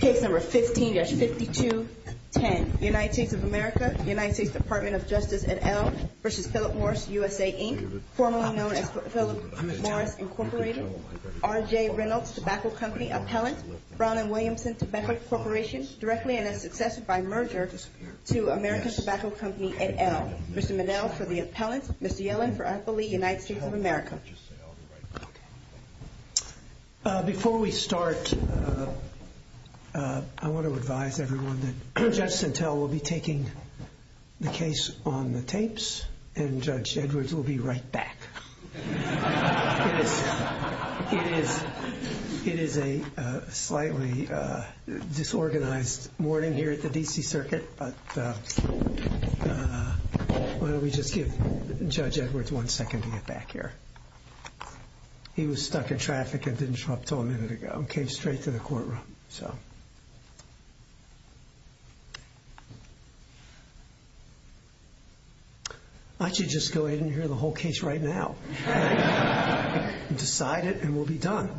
Case number 15-5210, United States of America, United States Department of Justice, et al. v. Philip Morris USA Inc., formerly known as Philip Morris Incorporated, R.J. Reynolds Tobacco Company Appellant, Brown & Williamson Tobacco Corporation, directly and as successor by merger to American Tobacco Company, et al. Mr. Monell for the appellant, Mr. Yellen for I believe United States of America. Before we start, I want to advise everyone that Judge Sintel will be taking the case on the tapes, and Judge Edwards will be right back. It is a slightly disorganized morning here at the D.C. Circuit, but why don't we just give Judge Edwards one second to get back here. He was stuck in traffic and didn't show up until a minute ago and came straight to the courtroom. I should just go ahead and hear the whole case right now. Decide it and we'll be done.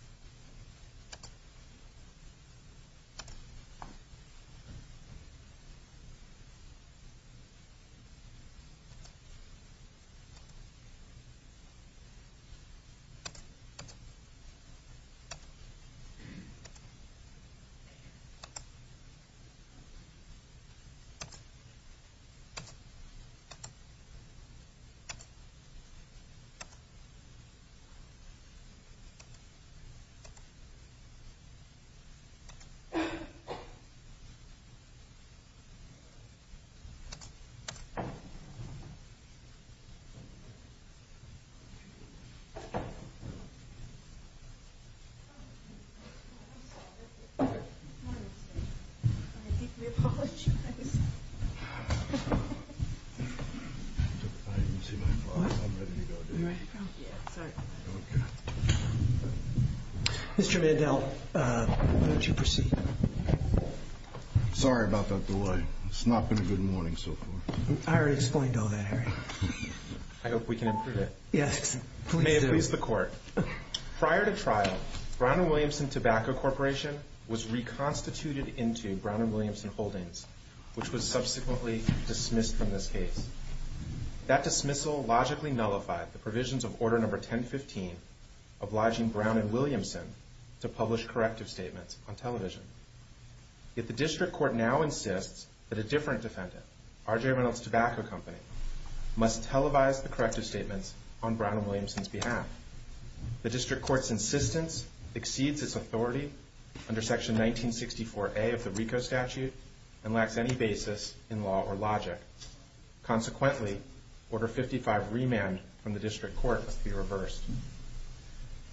Thank you. Thank you. Thank you. Thank you. Thank you. Thank you. Thank you. Thank you. I deeply apologize. Mr. Mandel, why don't you proceed? Sorry about that delay. It's not been a good morning so far. I already explained all that, Harry. I hope we can improve it. Yes, please do. May it please the Court. Prior to trial, Brown & Williamson Tobacco Corporation was reconstituted into Brown & Williamson Holdings, which was subsequently dismissed from this case. That dismissal logically nullified the provisions of Order No. 1015 Yet the District Court now insists that a different defendant, R.J. Reynolds Tobacco Company, must televise the corrective statements on Brown & Williamson's behalf. The District Court's insistence exceeds its authority under Section 1964A of the RICO statute and lacks any basis in law or logic. Consequently, Order No. 55, Remand, from the District Court must be reversed.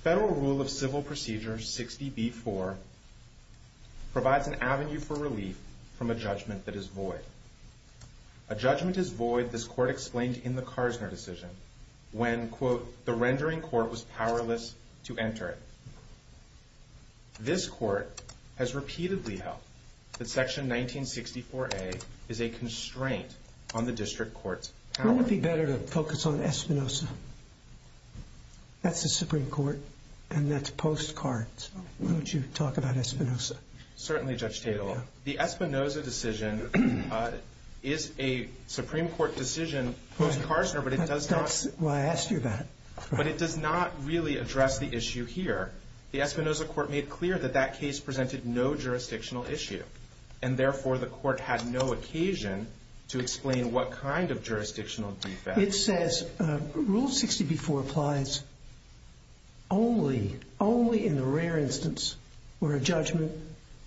Federal Rule of Civil Procedure 60B-4 provides an avenue for relief from a judgment that is void. A judgment is void, this Court explained in the Karsner decision, when, quote, the rendering court was powerless to enter it. This Court has repeatedly held that Section 1964A is a constraint on the District Court's power. Wouldn't it be better to focus on Espinoza? That's the Supreme Court, and that's post-Karsner. Why don't you talk about Espinoza? Certainly, Judge Tateloff. The Espinoza decision is a Supreme Court decision post-Karsner, but it does not... That's why I asked you that. But it does not really address the issue here. The Espinoza Court made clear that that case presented no jurisdictional issue, and therefore the Court had no occasion to explain what kind of jurisdictional defect. It says Rule 60B-4 applies only in the rare instance where a judgment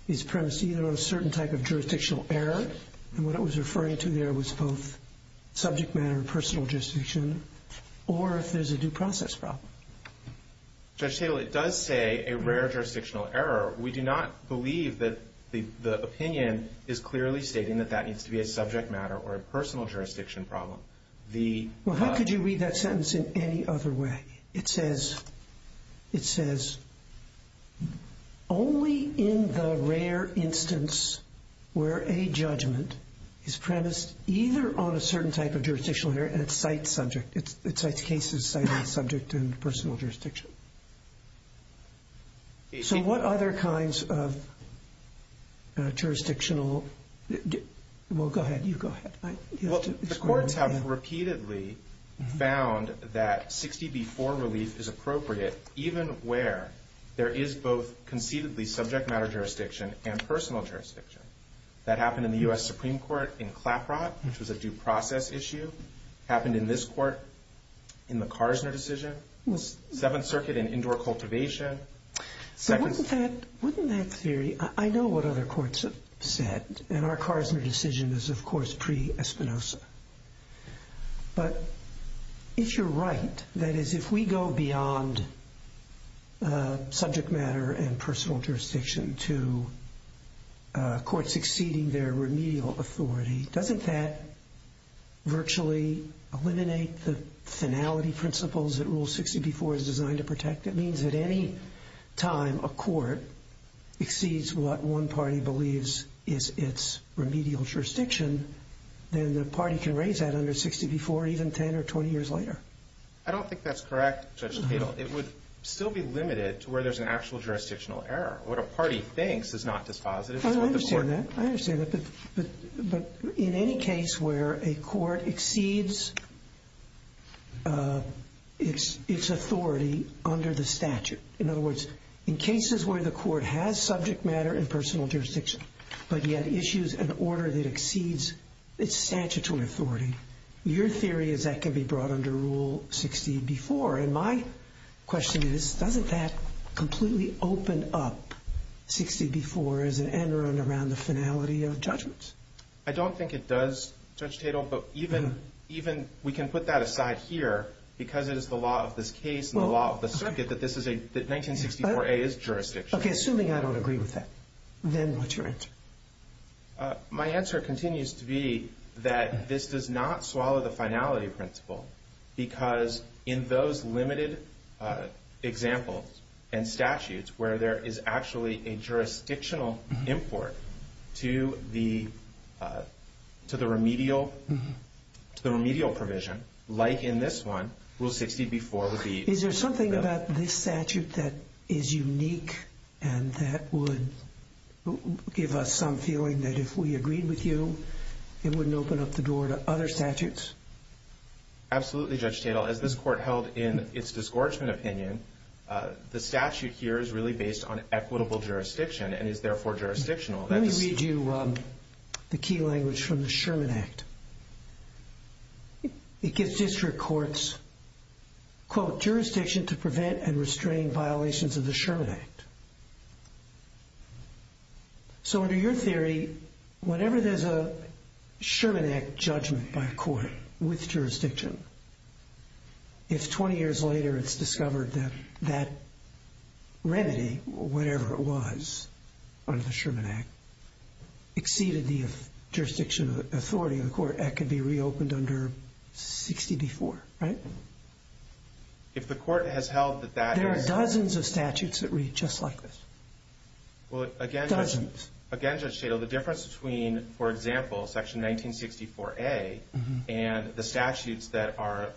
is premised either on a certain type of jurisdictional error, and what it was referring to there was both subject matter and personal jurisdiction, or if there's a due process problem. Judge Tateloff, it does say a rare jurisdictional error. We do not believe that the opinion is clearly stating that that needs to be a subject matter or a personal jurisdiction problem. Well, how could you read that sentence in any other way? It says only in the rare instance where a judgment is premised either on a certain type of jurisdictional error, and it cites cases citing subject and personal jurisdiction. So what other kinds of jurisdictional... Well, go ahead. You go ahead. Well, the courts have repeatedly found that 60B-4 relief is appropriate even where there is both concededly subject matter jurisdiction and personal jurisdiction. That happened in the U.S. Supreme Court in Claprot, which was a due process issue. It happened in this Court in the Karsner decision. Seventh Circuit in indoor cultivation. So wouldn't that theory... I know what other courts have said, and our Karsner decision is, of course, pre-Espinosa. But if you're right, that is, if we go beyond subject matter and personal jurisdiction to courts exceeding their remedial authority, doesn't that virtually eliminate the finality principles that Rule 60B-4 is designed to protect? It means that any time a court exceeds what one party believes is its remedial jurisdiction, then the party can raise that under 60B-4 even 10 or 20 years later. I don't think that's correct, Judge Tadal. It would still be limited to where there's an actual jurisdictional error. What a party thinks is not dispositive is what the court... In any case where a court exceeds its authority under the statute, in other words, in cases where the court has subject matter and personal jurisdiction, but yet issues an order that exceeds its statutory authority, your theory is that can be brought under Rule 60B-4. And my question is, doesn't that completely open up 60B-4 as an end around the finality of judgments? I don't think it does, Judge Tadal, but even we can put that aside here because it is the law of this case and the law of the circuit that 1964A is jurisdiction. Okay. Assuming I don't agree with that, then what's your answer? My answer continues to be that this does not swallow the finality principle because in those limited examples and statutes where there is actually a jurisdictional import to the remedial provision, like in this one, Rule 60B-4 would be... Is there something about this statute that is unique and that would give us some feeling that if we agreed with you, it wouldn't open up the door to other statutes? Absolutely, Judge Tadal. As this court held in its disgorgement opinion, the statute here is really based on equitable jurisdiction and is therefore jurisdictional. Let me read you the key language from the Sherman Act. It gives district courts, quote, jurisdiction to prevent and restrain violations of the Sherman Act. So under your theory, whenever there's a Sherman Act judgment by a court with jurisdiction, if 20 years later it's discovered that that remedy, whatever it was under the Sherman Act, exceeded the jurisdiction authority of the court, that could be reopened under 60B-4, right? If the court has held that that is... There are dozens of statutes that read just like this. Dozens. Again, Judge Tadal, the difference between, for example, Section 1964A and the statutes that are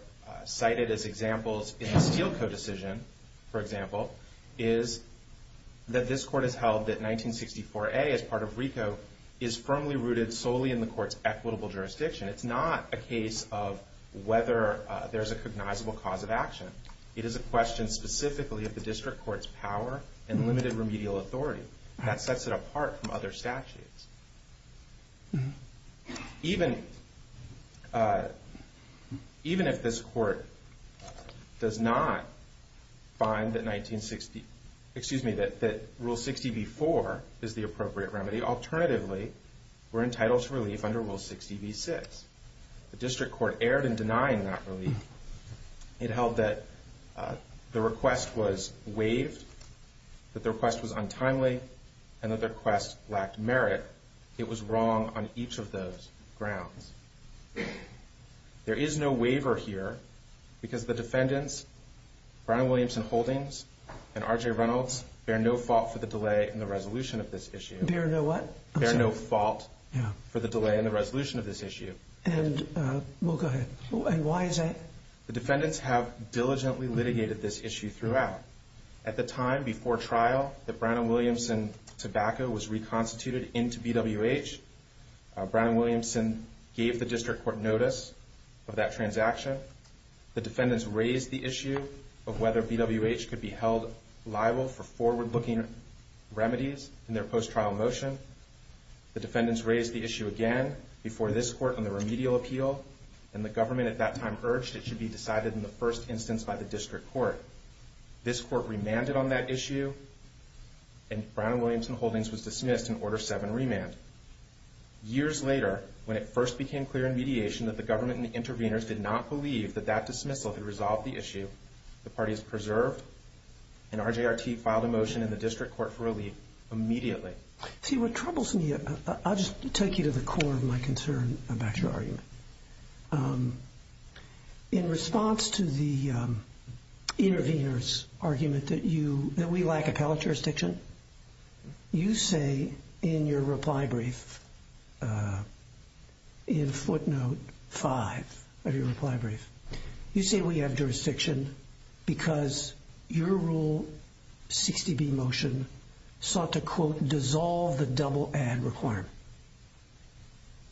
cited as examples in the Steele Code decision, for example, is that this court has held that 1964A as part of RICO is firmly rooted solely in the court's equitable jurisdiction. It's not a case of whether there's a cognizable cause of action. It is a question specifically of the district court's power and limited remedial authority. That sets it apart from other statutes. Even if this court does not find that 1960... Excuse me, that Rule 60B-4 is the appropriate remedy, alternatively, we're entitled to relief under Rule 60B-6. The district court erred in denying that relief. It held that the request was waived, that the request was untimely, and that the request lacked merit. It was wrong on each of those grounds. There is no waiver here because the defendants, Brian Williamson Holdings and R.J. Reynolds, bear no fault for the delay in the resolution of this issue. Bear no what? Bear no fault for the delay in the resolution of this issue. Well, go ahead. And why is that? The defendants have diligently litigated this issue throughout. At the time before trial that Brown and Williamson tobacco was reconstituted into BWH, Brown and Williamson gave the district court notice of that transaction. The defendants raised the issue of whether BWH could be held liable for forward-looking remedies in their post-trial motion. The defendants raised the issue again before this court on the remedial appeal, and the government at that time urged it should be decided in the first instance by the district court. This court remanded on that issue, and Brown and Williamson Holdings was dismissed in Order 7 Remand. Years later, when it first became clear in mediation that the government and the interveners did not believe that that dismissal could resolve the issue, the parties preserved, and RJRT filed a motion in the district court for relief immediately. See, what troubles me, I'll just take you to the core of my concern about your argument. In response to the intervener's argument that we lack appellate jurisdiction, you say in your reply brief, in footnote 5 of your reply brief, you say we have jurisdiction because your Rule 60B motion sought to, quote, dissolve the double-add requirement.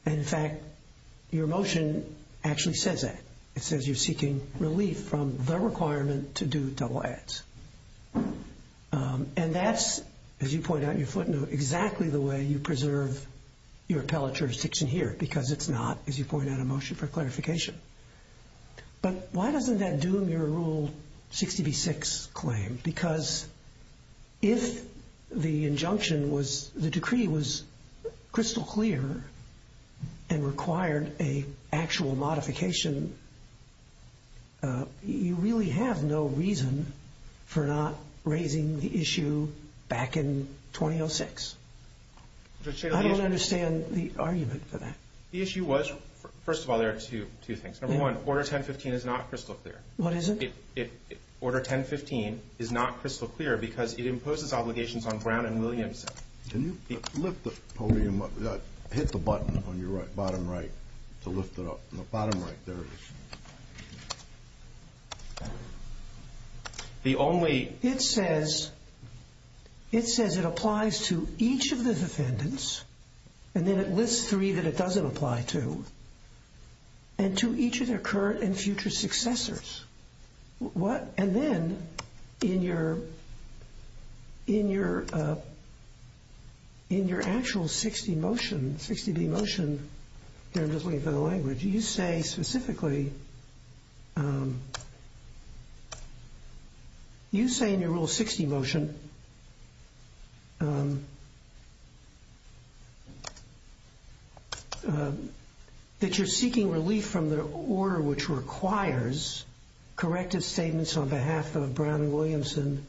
And in fact, your motion actually says that. It says you're seeking relief from the requirement to do double-adds. And that's, as you point out in your footnote, exactly the way you preserve your appellate jurisdiction here, because it's not, as you point out, a motion for clarification. But why doesn't that doom your Rule 60B-6 claim? Because if the injunction was, the decree was crystal clear and required an actual modification, you really have no reason for not raising the issue back in 2006. I don't understand the argument for that. The issue was, first of all, there are two things. Number one, Order 1015 is not crystal clear. What is it? Order 1015 is not crystal clear because it imposes obligations on Brown and Williamson. Can you lift the podium up? Hit the button on your bottom right to lift it up. On the bottom right, there it is. The only— It says it applies to each of the defendants, and then it lists three that it doesn't apply to, and to each of their current and future successors. And then in your actual 60 motion, 60B motion, here I'm just looking for the language, you say specifically—you say in your Rule 60 motion that you're seeking relief from the order which requires corrective statements on behalf of Brown and Williamson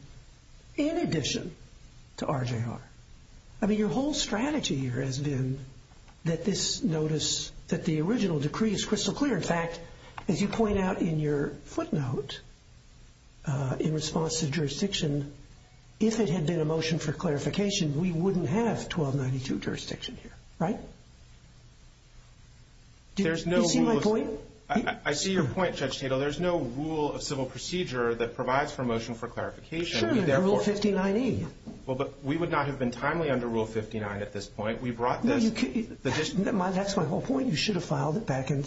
in addition to RJR. I mean, your whole strategy here has been that this notice that the original decree is crystal clear. In fact, as you point out in your footnote in response to jurisdiction, if it had been a motion for clarification, we wouldn't have 1292 jurisdiction here, right? Do you see my point? I see your point, Judge Tatel. There's no rule of civil procedure that provides for a motion for clarification. Sure, Rule 59E. Well, but we would not have been timely under Rule 59 at this point. We brought this— That's my whole point. You should have filed it back in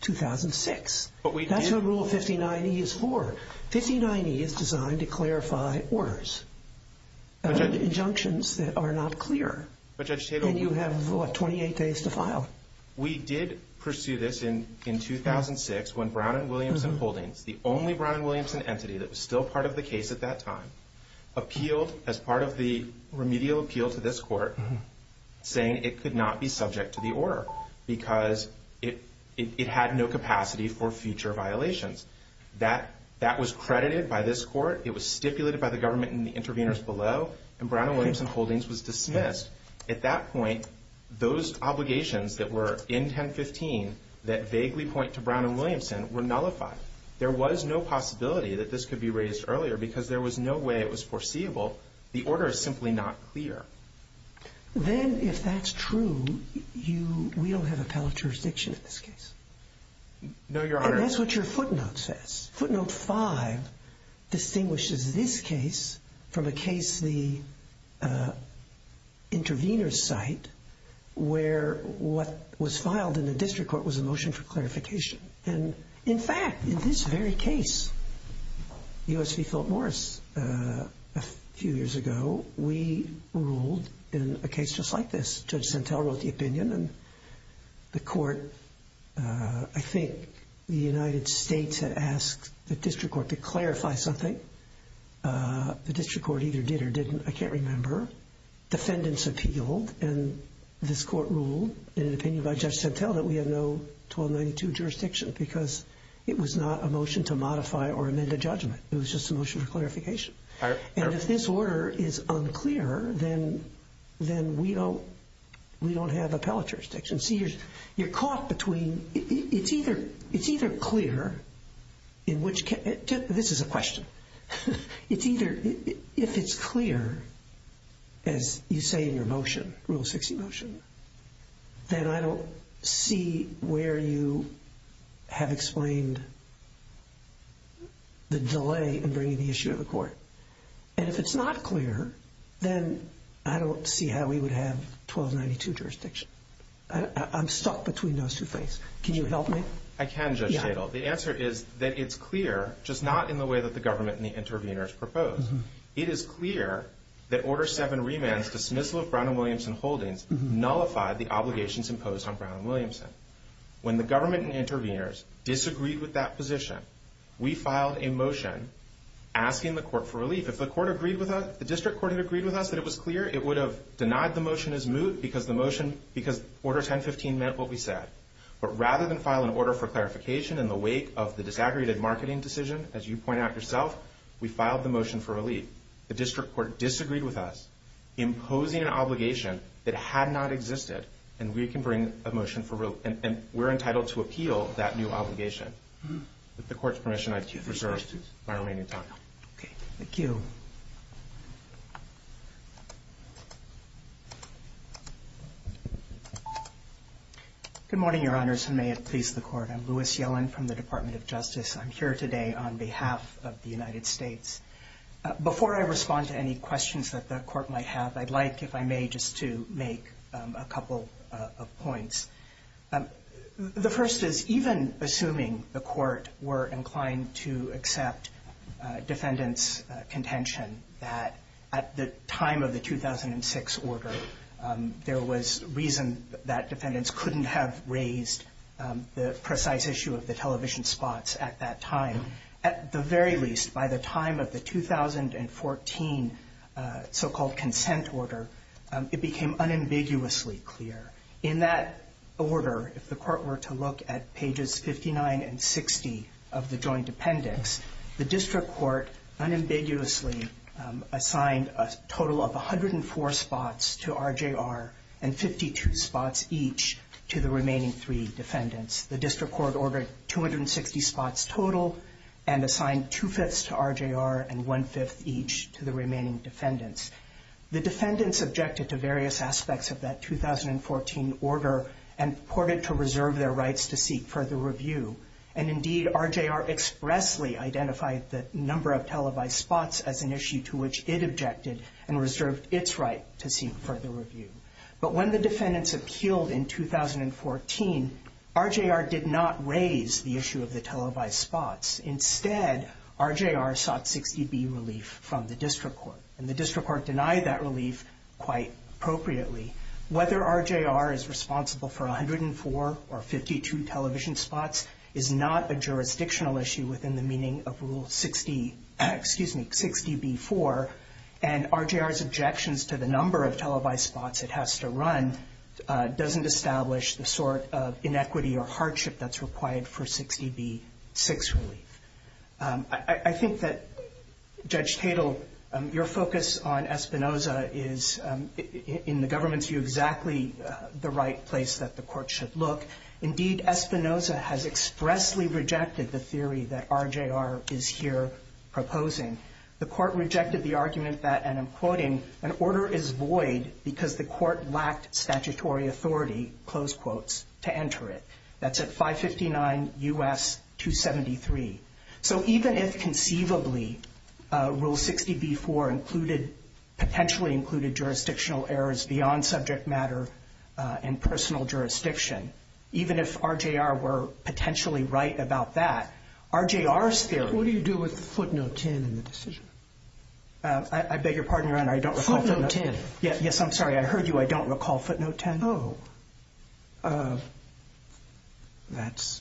2006. But we did. That's what Rule 59E is for. 59E is designed to clarify orders, injunctions that are not clear. But Judge Tatel— And you have, what, 28 days to file. We did pursue this in 2006 when Brown and Williamson Holdings, the only Brown and Williamson entity that was still part of the case at that time, appealed as part of the remedial appeal to this court, saying it could not be subject to the order because it had no capacity for future violations. That was credited by this court. It was stipulated by the government and the interveners below, and Brown and Williamson Holdings was dismissed. At that point, those obligations that were in 1015 that vaguely point to Brown and Williamson were nullified. There was no possibility that this could be raised earlier because there was no way it was foreseeable. The order is simply not clear. Then, if that's true, you—we don't have appellate jurisdiction in this case. No, Your Honor— And that's what your footnote says. Footnote 5 distinguishes this case from a case, the intervener's site, In fact, in this very case, U.S. v. Philip Morris a few years ago, we ruled in a case just like this. Judge Sentelle wrote the opinion, and the court— I think the United States had asked the district court to clarify something. The district court either did or didn't. I can't remember. Defendants appealed, and this court ruled in an opinion by Judge Sentelle that we have no 1292 jurisdiction because it was not a motion to modify or amend a judgment. It was just a motion for clarification. And if this order is unclear, then we don't have appellate jurisdiction. See, you're caught between—it's either clear in which—this is a question. It's either—if it's clear, as you say in your motion, Rule 60 motion, then I don't see where you have explained the delay in bringing the issue to the court. And if it's not clear, then I don't see how we would have 1292 jurisdiction. I'm stuck between those two things. Can you help me? I can, Judge Sentelle. The answer is that it's clear, just not in the way that the government and the interveners proposed. It is clear that Order 7, Remand's dismissal of Brown and Williamson holdings nullified the obligations imposed on Brown and Williamson. When the government and interveners disagreed with that position, we filed a motion asking the court for relief. If the district court had agreed with us that it was clear, it would have denied the motion as moot because Order 1015 meant what we said. But rather than file an order for clarification in the wake of the disaggregated marketing decision, as you pointed out yourself, we filed the motion for relief. The district court disagreed with us, imposing an obligation that had not existed, and we can bring a motion for relief. And we're entitled to appeal that new obligation. With the court's permission, I reserve my remaining time. Okay. Thank you. Thank you. Good morning, Your Honors, and may it please the Court. I'm Louis Yellen from the Department of Justice. I'm here today on behalf of the United States. Before I respond to any questions that the Court might have, I'd like, if I may, just to make a couple of points. The first is, even assuming the Court were inclined to accept defendants' contention that at the time of the 2006 order, there was reason that defendants couldn't have raised the precise issue of the television spots at that time. At the very least, by the time of the 2014 so-called consent order, it became unambiguously clear. In that order, if the Court were to look at pages 59 and 60 of the joint appendix, the district court unambiguously assigned a total of 104 spots to RJR and 52 spots each to the remaining three defendants. The district court ordered 260 spots total and assigned two-fifths to RJR and one-fifth each to the remaining defendants. The defendants objected to various aspects of that 2014 order and purported to reserve their rights to seek further review. And indeed, RJR expressly identified the number of televised spots as an issue to which it objected and reserved its right to seek further review. But when the defendants appealed in 2014, RJR did not raise the issue of the televised spots. Instead, RJR sought 60B relief from the district court, and the district court denied that relief quite appropriately. Whether RJR is responsible for 104 or 52 television spots is not a jurisdictional issue within the meaning of Rule 60B-4, and RJR's objections to the number of televised spots it has to run doesn't establish the sort of inequity or hardship that's required for 60B-6 relief. I think that, Judge Tatel, your focus on Espinoza is, in the government's view, exactly the right place that the Court should look. Indeed, Espinoza has expressly rejected the theory that RJR is here proposing. The Court rejected the argument that, and I'm quoting, an order is void because the Court lacked statutory authority, close quotes, to enter it. That's at 559 U.S. 273. So even if conceivably Rule 60B-4 included, potentially included jurisdictional errors beyond subject matter and personal jurisdiction, even if RJR were potentially right about that, RJR's theory What do you do with footnote 10 in the decision? I beg your pardon, Your Honor, I don't recall footnote 10. Footnote 10. Yes, I'm sorry, I heard you. I don't recall footnote 10. Oh. That's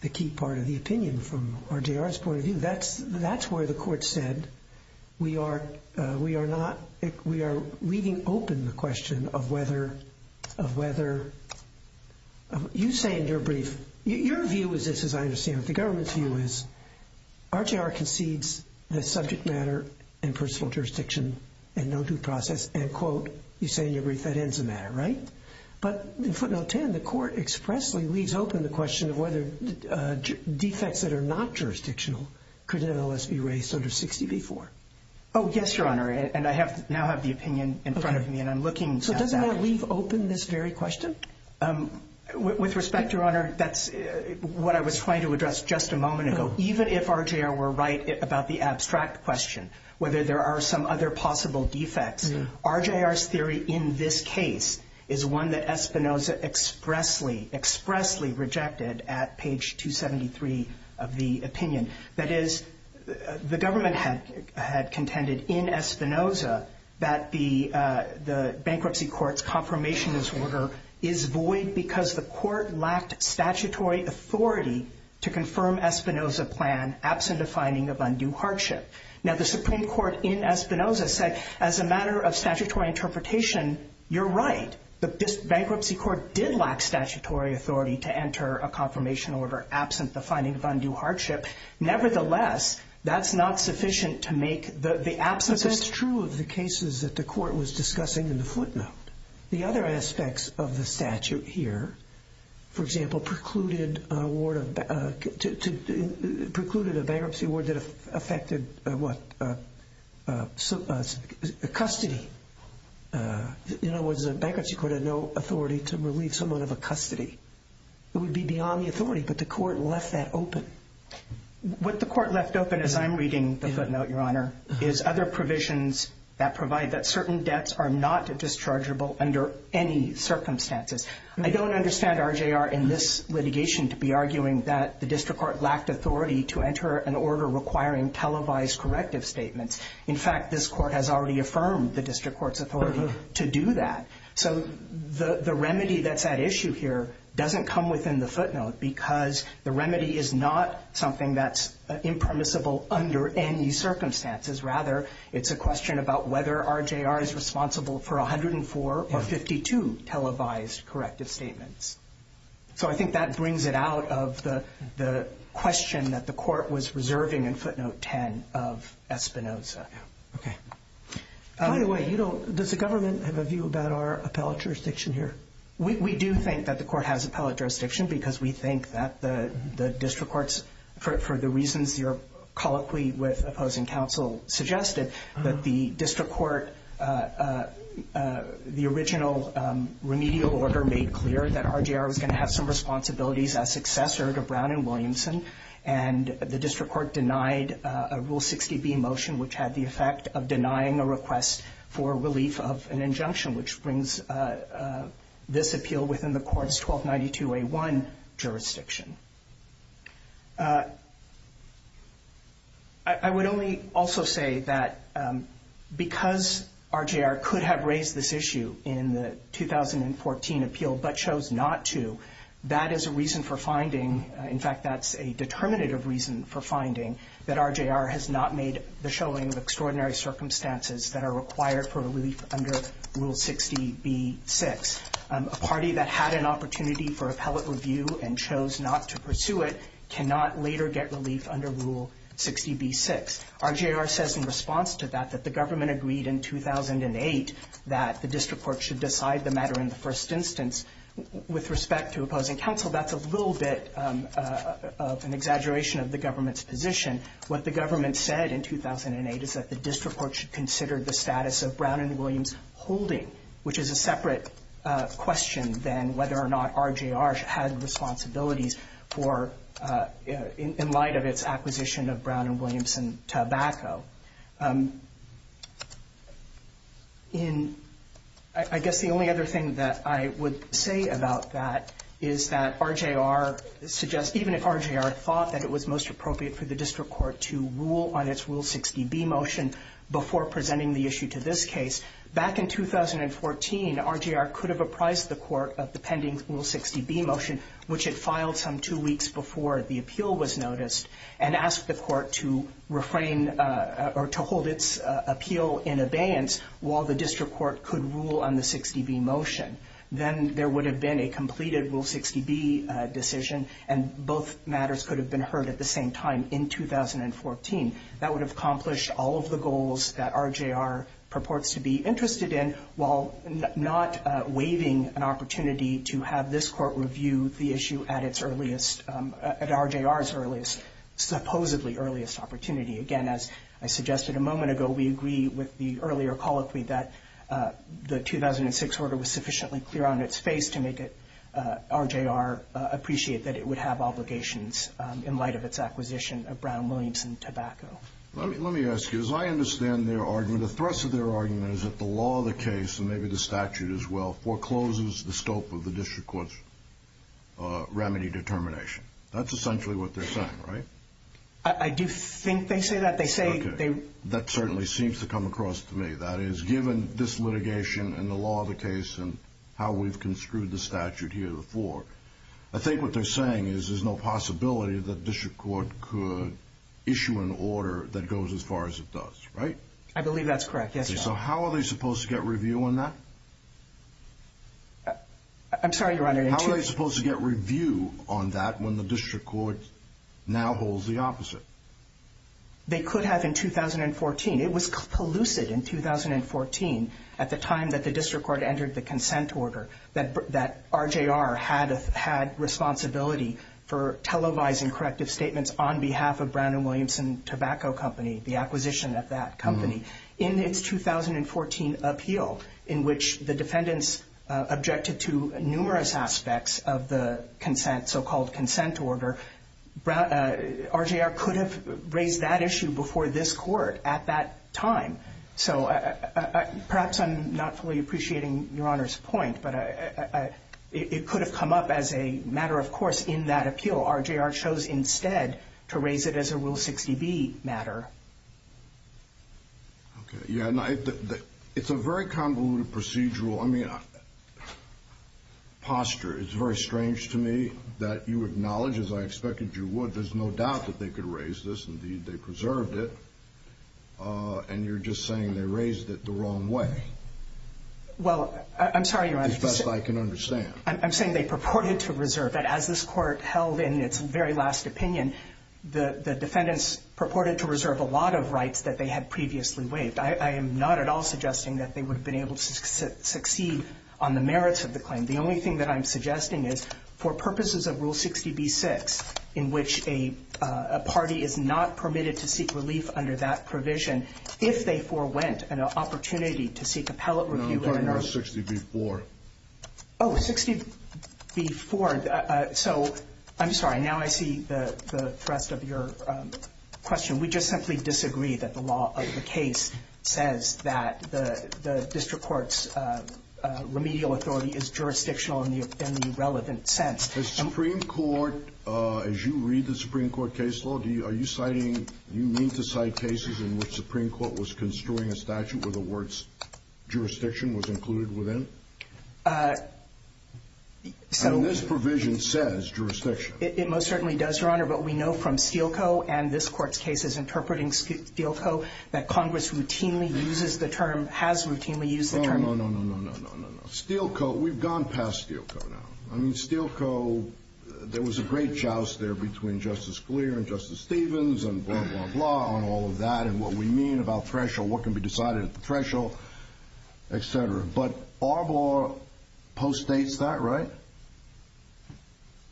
the key part of the opinion from RJR's point of view. That's where the Court said we are reading open the question of whether, of whether, you say in your brief, your view is this, as I understand it, the government's view is, RJR concedes the subject matter and personal jurisdiction and no due process, and, quote, you say in your brief, that ends the matter, right? But in footnote 10, the Court expressly leaves open the question of whether defects that are not jurisdictional could, in other words, be raised under 60B-4. Oh, yes, Your Honor, and I have now have the opinion in front of me, and I'm looking. So does that leave open this very question? With respect, Your Honor, that's what I was trying to address just a moment ago. Even if RJR were right about the abstract question, whether there are some other possible defects, RJR's theory in this case is one that Espinoza expressly, expressly rejected at page 273 of the opinion. That is, the government had contended in Espinoza that the bankruptcy court's confirmation order is void because the court lacked statutory authority to confirm Espinoza's plan absent a finding of undue hardship. Now, the Supreme Court in Espinoza said, as a matter of statutory interpretation, you're right. The bankruptcy court did lack statutory authority to enter a confirmation order absent the finding of undue hardship. Nevertheless, that's not sufficient to make the absence of… But that's true of the cases that the court was discussing in the footnote. The other aspects of the statute here, for example, precluded a bankruptcy award that affected, what, custody. In other words, the bankruptcy court had no authority to relieve someone of a custody. It would be beyond the authority, but the court left that open. What the court left open, as I'm reading the footnote, Your Honor, is other provisions that provide that certain debts are not dischargeable under any circumstances. I don't understand RJR in this litigation to be arguing that the district court lacked authority to enter an order requiring televised corrective statements. In fact, this court has already affirmed the district court's authority to do that. So the remedy that's at issue here doesn't come within the footnote because the remedy is not something that's impermissible under any circumstances. Rather, it's a question about whether RJR is responsible for 104 or 52 televised corrective statements. So I think that brings it out of the question that the court was reserving in footnote 10 of Espinoza. Okay. By the way, does the government have a view about our appellate jurisdiction here? We do think that the court has appellate jurisdiction because we think that the district courts, for the reasons you're colloquy with opposing counsel suggested, that the district court, the original remedial order made clear that RJR was going to have some responsibilities as successor to Brown and Williamson, and the district court denied a Rule 60B motion which had the effect of denying a request for relief of an injunction, which brings this appeal within the court's 1292A1 jurisdiction. I would only also say that because RJR could have raised this issue in the 2014 appeal but chose not to, that is a reason for finding, in fact that's a determinative reason for finding, that RJR has not made the showing of extraordinary circumstances that are required for relief under Rule 60B-6. A party that had an opportunity for appellate review and chose not to pursue it cannot later get relief under Rule 60B-6. RJR says in response to that that the government agreed in 2008 that the district court should decide the matter in the first instance. With respect to opposing counsel, that's a little bit of an exaggeration of the government's position. What the government said in 2008 is that the district court should consider the status of Brown and Williams holding, which is a separate question than whether or not RJR had responsibilities in light of its acquisition of Brown and Williamson tobacco. I guess the only other thing that I would say about that is that RJR suggests, even if RJR thought that it was most appropriate for the district court to rule on its Rule 60B motion before presenting the issue to this case, back in 2014, RJR could have apprised the court of the pending Rule 60B motion, which it filed some two weeks before the appeal was noticed, and asked the court to refrain or to hold its appeal in abeyance while the district court could rule on the 60B motion. Then there would have been a completed Rule 60B decision, and both matters could have been heard at the same time in 2014. That would have accomplished all of the goals that RJR purports to be interested in, while not waiving an opportunity to have this court review the issue at its earliest, at RJR's earliest, supposedly earliest opportunity. Again, as I suggested a moment ago, we agree with the earlier colloquy that the 2006 order was sufficiently clear on its face to make it, RJR, appreciate that it would have obligations in light of its acquisition of Brown and Williamson tobacco. Let me ask you, as I understand their argument, the thrust of their argument is that the law of the case, and maybe the statute as well, forecloses the scope of the district court's remedy determination. That's essentially what they're saying, right? I do think they say that. They say they... Okay. That certainly seems to come across to me. That is, given this litigation and the law of the case and how we've construed the statute here before, I think what they're saying is there's no possibility that the district court could issue an order that goes as far as it does, right? I believe that's correct. Yes, Your Honor. Okay. So how are they supposed to get review on that? I'm sorry, Your Honor. How are they supposed to get review on that when the district court now holds the opposite? They could have in 2014. It was collusive in 2014 at the time that the district court entered the consent order that RJR had responsibility for televising corrective statements on behalf of Brown and Williamson Tobacco Company, the acquisition of that company. In its 2014 appeal, in which the defendants objected to numerous aspects of the consent, so-called consent order, RJR could have raised that issue before this court at that time. So perhaps I'm not fully appreciating Your Honor's point, but it could have come up as a matter of course in that appeal. RJR chose instead to raise it as a Rule 60B matter. Okay. Yeah, it's a very convoluted procedural, I mean, posture. It's very strange to me that you acknowledge, as I expected you would, there's no doubt that they could raise this. Indeed, they preserved it. And you're just saying they raised it the wrong way. Well, I'm sorry, Your Honor. As best I can understand. I'm saying they purported to reserve it. As this court held in its very last opinion, the defendants purported to reserve a lot of rights that they had previously waived. I am not at all suggesting that they would have been able to succeed on the merits of the claim. The only thing that I'm suggesting is for purposes of Rule 60B-6, in which a party is not permitted to seek relief under that provision, if they forewent an opportunity to seek appellate review, Your Honor. Rule 60B-4. Oh, 60B-4. So, I'm sorry. Now I see the thrust of your question. We just simply disagree that the law of the case says that the district court's remedial authority is jurisdictional in the relevant sense. The Supreme Court, as you read the Supreme Court case law, are you citing, do you mean to cite cases in which the Supreme Court was construing a statute where the words jurisdiction was included within? So. And this provision says jurisdiction. It most certainly does, Your Honor. But we know from Steele Co. and this Court's cases interpreting Steele Co. that Congress routinely uses the term, has routinely used the term. No, no, no, no, no, no, no, no. Steele Co., we've gone past Steele Co. now. I mean, Steele Co., there was a great joust there between Justice Scalia and Justice Stevens and blah, blah, blah on all of that and what we mean about threshold, what can be decided at the threshold, et cetera. But Arbor postdates that, right?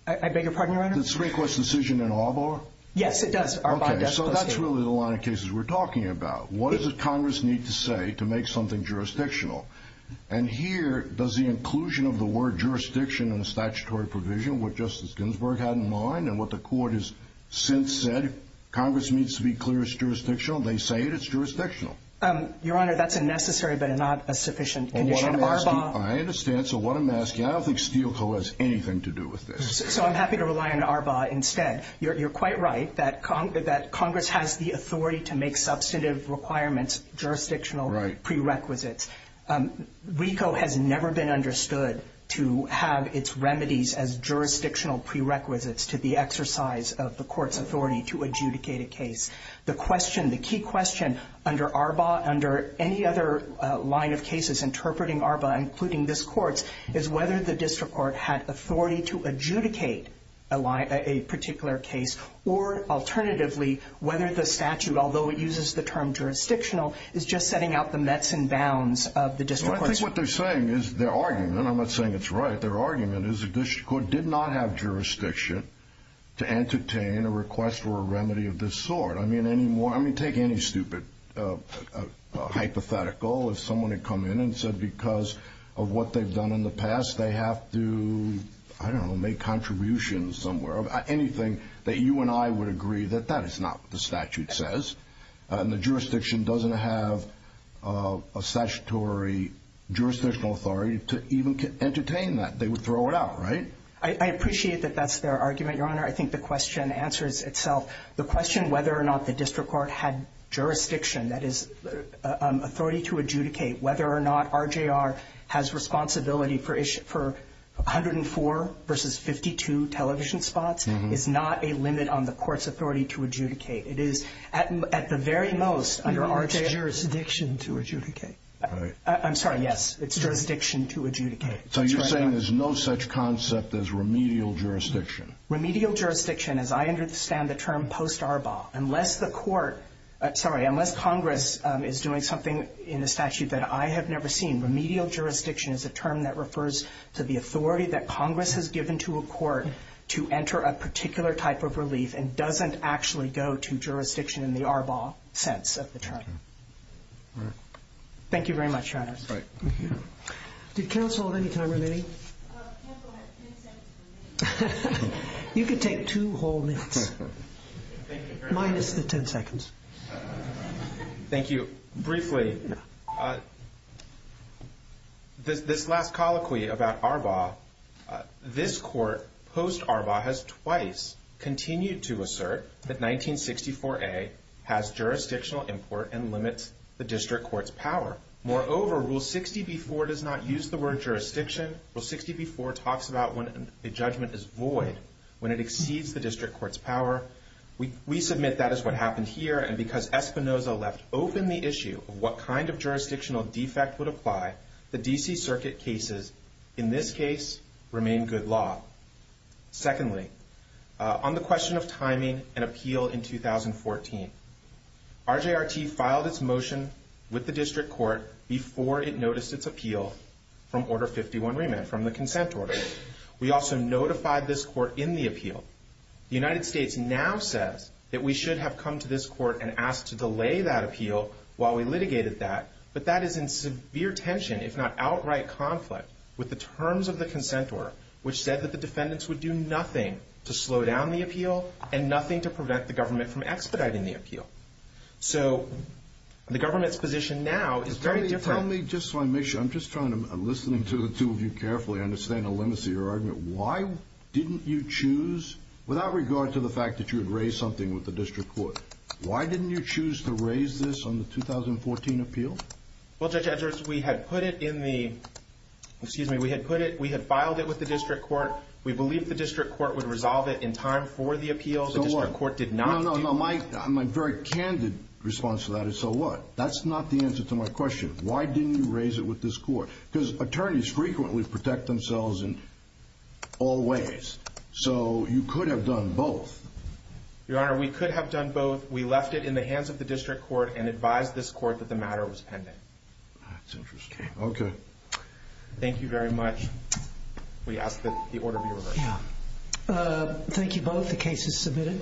I beg your pardon, Your Honor? The Supreme Court's decision in Arbor? Yes, it does. Okay, so that's really the line of cases we're talking about. What does Congress need to say to make something jurisdictional? And here, does the inclusion of the word jurisdiction in the statutory provision, what Justice Ginsburg had in mind and what the Court has since said, Congress needs to be clear it's jurisdictional? They say it's jurisdictional. Your Honor, that's a necessary but not a sufficient condition. Arbor? I understand. So what I'm asking, I don't think Steele Co. has anything to do with this. So I'm happy to rely on Arbor instead. You're quite right that Congress has the authority to make substantive requirements jurisdictional prerequisites. RICO has never been understood to have its remedies as jurisdictional prerequisites to the exercise of the Court's authority to adjudicate a case. The question, the key question under Arbor, under any other line of cases interpreting Arbor, including this Court's, is whether the District Court had authority to adjudicate a particular case or, alternatively, whether the statute, although it uses the term jurisdictional, is just setting out the mets and bounds of the District Court's. I think what they're saying is their argument, and I'm not saying it's right, but their argument is the District Court did not have jurisdiction to entertain a request for a remedy of this sort. I mean, take any stupid hypothetical. If someone had come in and said because of what they've done in the past, they have to, I don't know, make contributions somewhere, anything that you and I would agree that that is not what the statute says, and the jurisdiction doesn't have a statutory jurisdictional authority to even entertain that. They would throw it out, right? I appreciate that that's their argument, Your Honor. I think the question answers itself. The question whether or not the District Court had jurisdiction, that is, authority to adjudicate, whether or not RJR has responsibility for 104 versus 52 television spots is not a limit on the Court's authority to adjudicate. It is at the very most under RJR's jurisdiction to adjudicate. I'm sorry. Yes, it's jurisdiction to adjudicate. So you're saying there's no such concept as remedial jurisdiction? Remedial jurisdiction, as I understand the term post Arbaugh, unless the Court, sorry, unless Congress is doing something in the statute that I have never seen, remedial jurisdiction is a term that refers to the authority that Congress has given to a Court to enter a particular type of relief and doesn't actually go to jurisdiction in the Arbaugh sense of the term. All right. Thank you very much, Your Honor. All right. Thank you. Did counsel have any time remaining? Counsel had 10 seconds remaining. You can take two whole minutes. Thank you very much. Minus the 10 seconds. Thank you. Briefly, this last colloquy about Arbaugh, this Court, post Arbaugh, has twice continued to assert that 1964A has jurisdictional import and limits the district court's power. Moreover, Rule 60b-4 does not use the word jurisdiction. Rule 60b-4 talks about when a judgment is void, when it exceeds the district court's power. We submit that is what happened here. And because Espinoza left open the issue of what kind of jurisdictional defect would apply, the D.C. Circuit cases in this case remain good law. Secondly, on the question of timing and appeal in 2014, RJRT filed its motion with the district court before it noticed its appeal from Order 51 remand, from the consent order. We also notified this court in the appeal. The United States now says that we should have come to this court and asked to delay that appeal while we litigated that. But that is in severe tension, if not outright conflict, with the terms of the consent order, which said that the defendants would do nothing to slow down the appeal and nothing to prevent the government from expediting the appeal. So the government's position now is very different. Tell me, just so I make sure, I'm just trying to, I'm listening to the two of you carefully. I understand the limits of your argument. Why didn't you choose, without regard to the fact that you had raised something with the district court, why didn't you choose to raise this on the 2014 appeal? Well, Judge Edwards, we had put it in the, excuse me, we had put it, we had filed it with the district court. We believed the district court would resolve it in time for the appeal. So what? The district court did not. No, no, no, my very candid response to that is so what? That's not the answer to my question. Why didn't you raise it with this court? Because attorneys frequently protect themselves in all ways. So you could have done both. Your Honor, we could have done both. We left it in the hands of the district court and advised this court that the matter was pending. That's interesting. Okay. Thank you very much. We ask that the order be reversed. Thank you both. The case is submitted.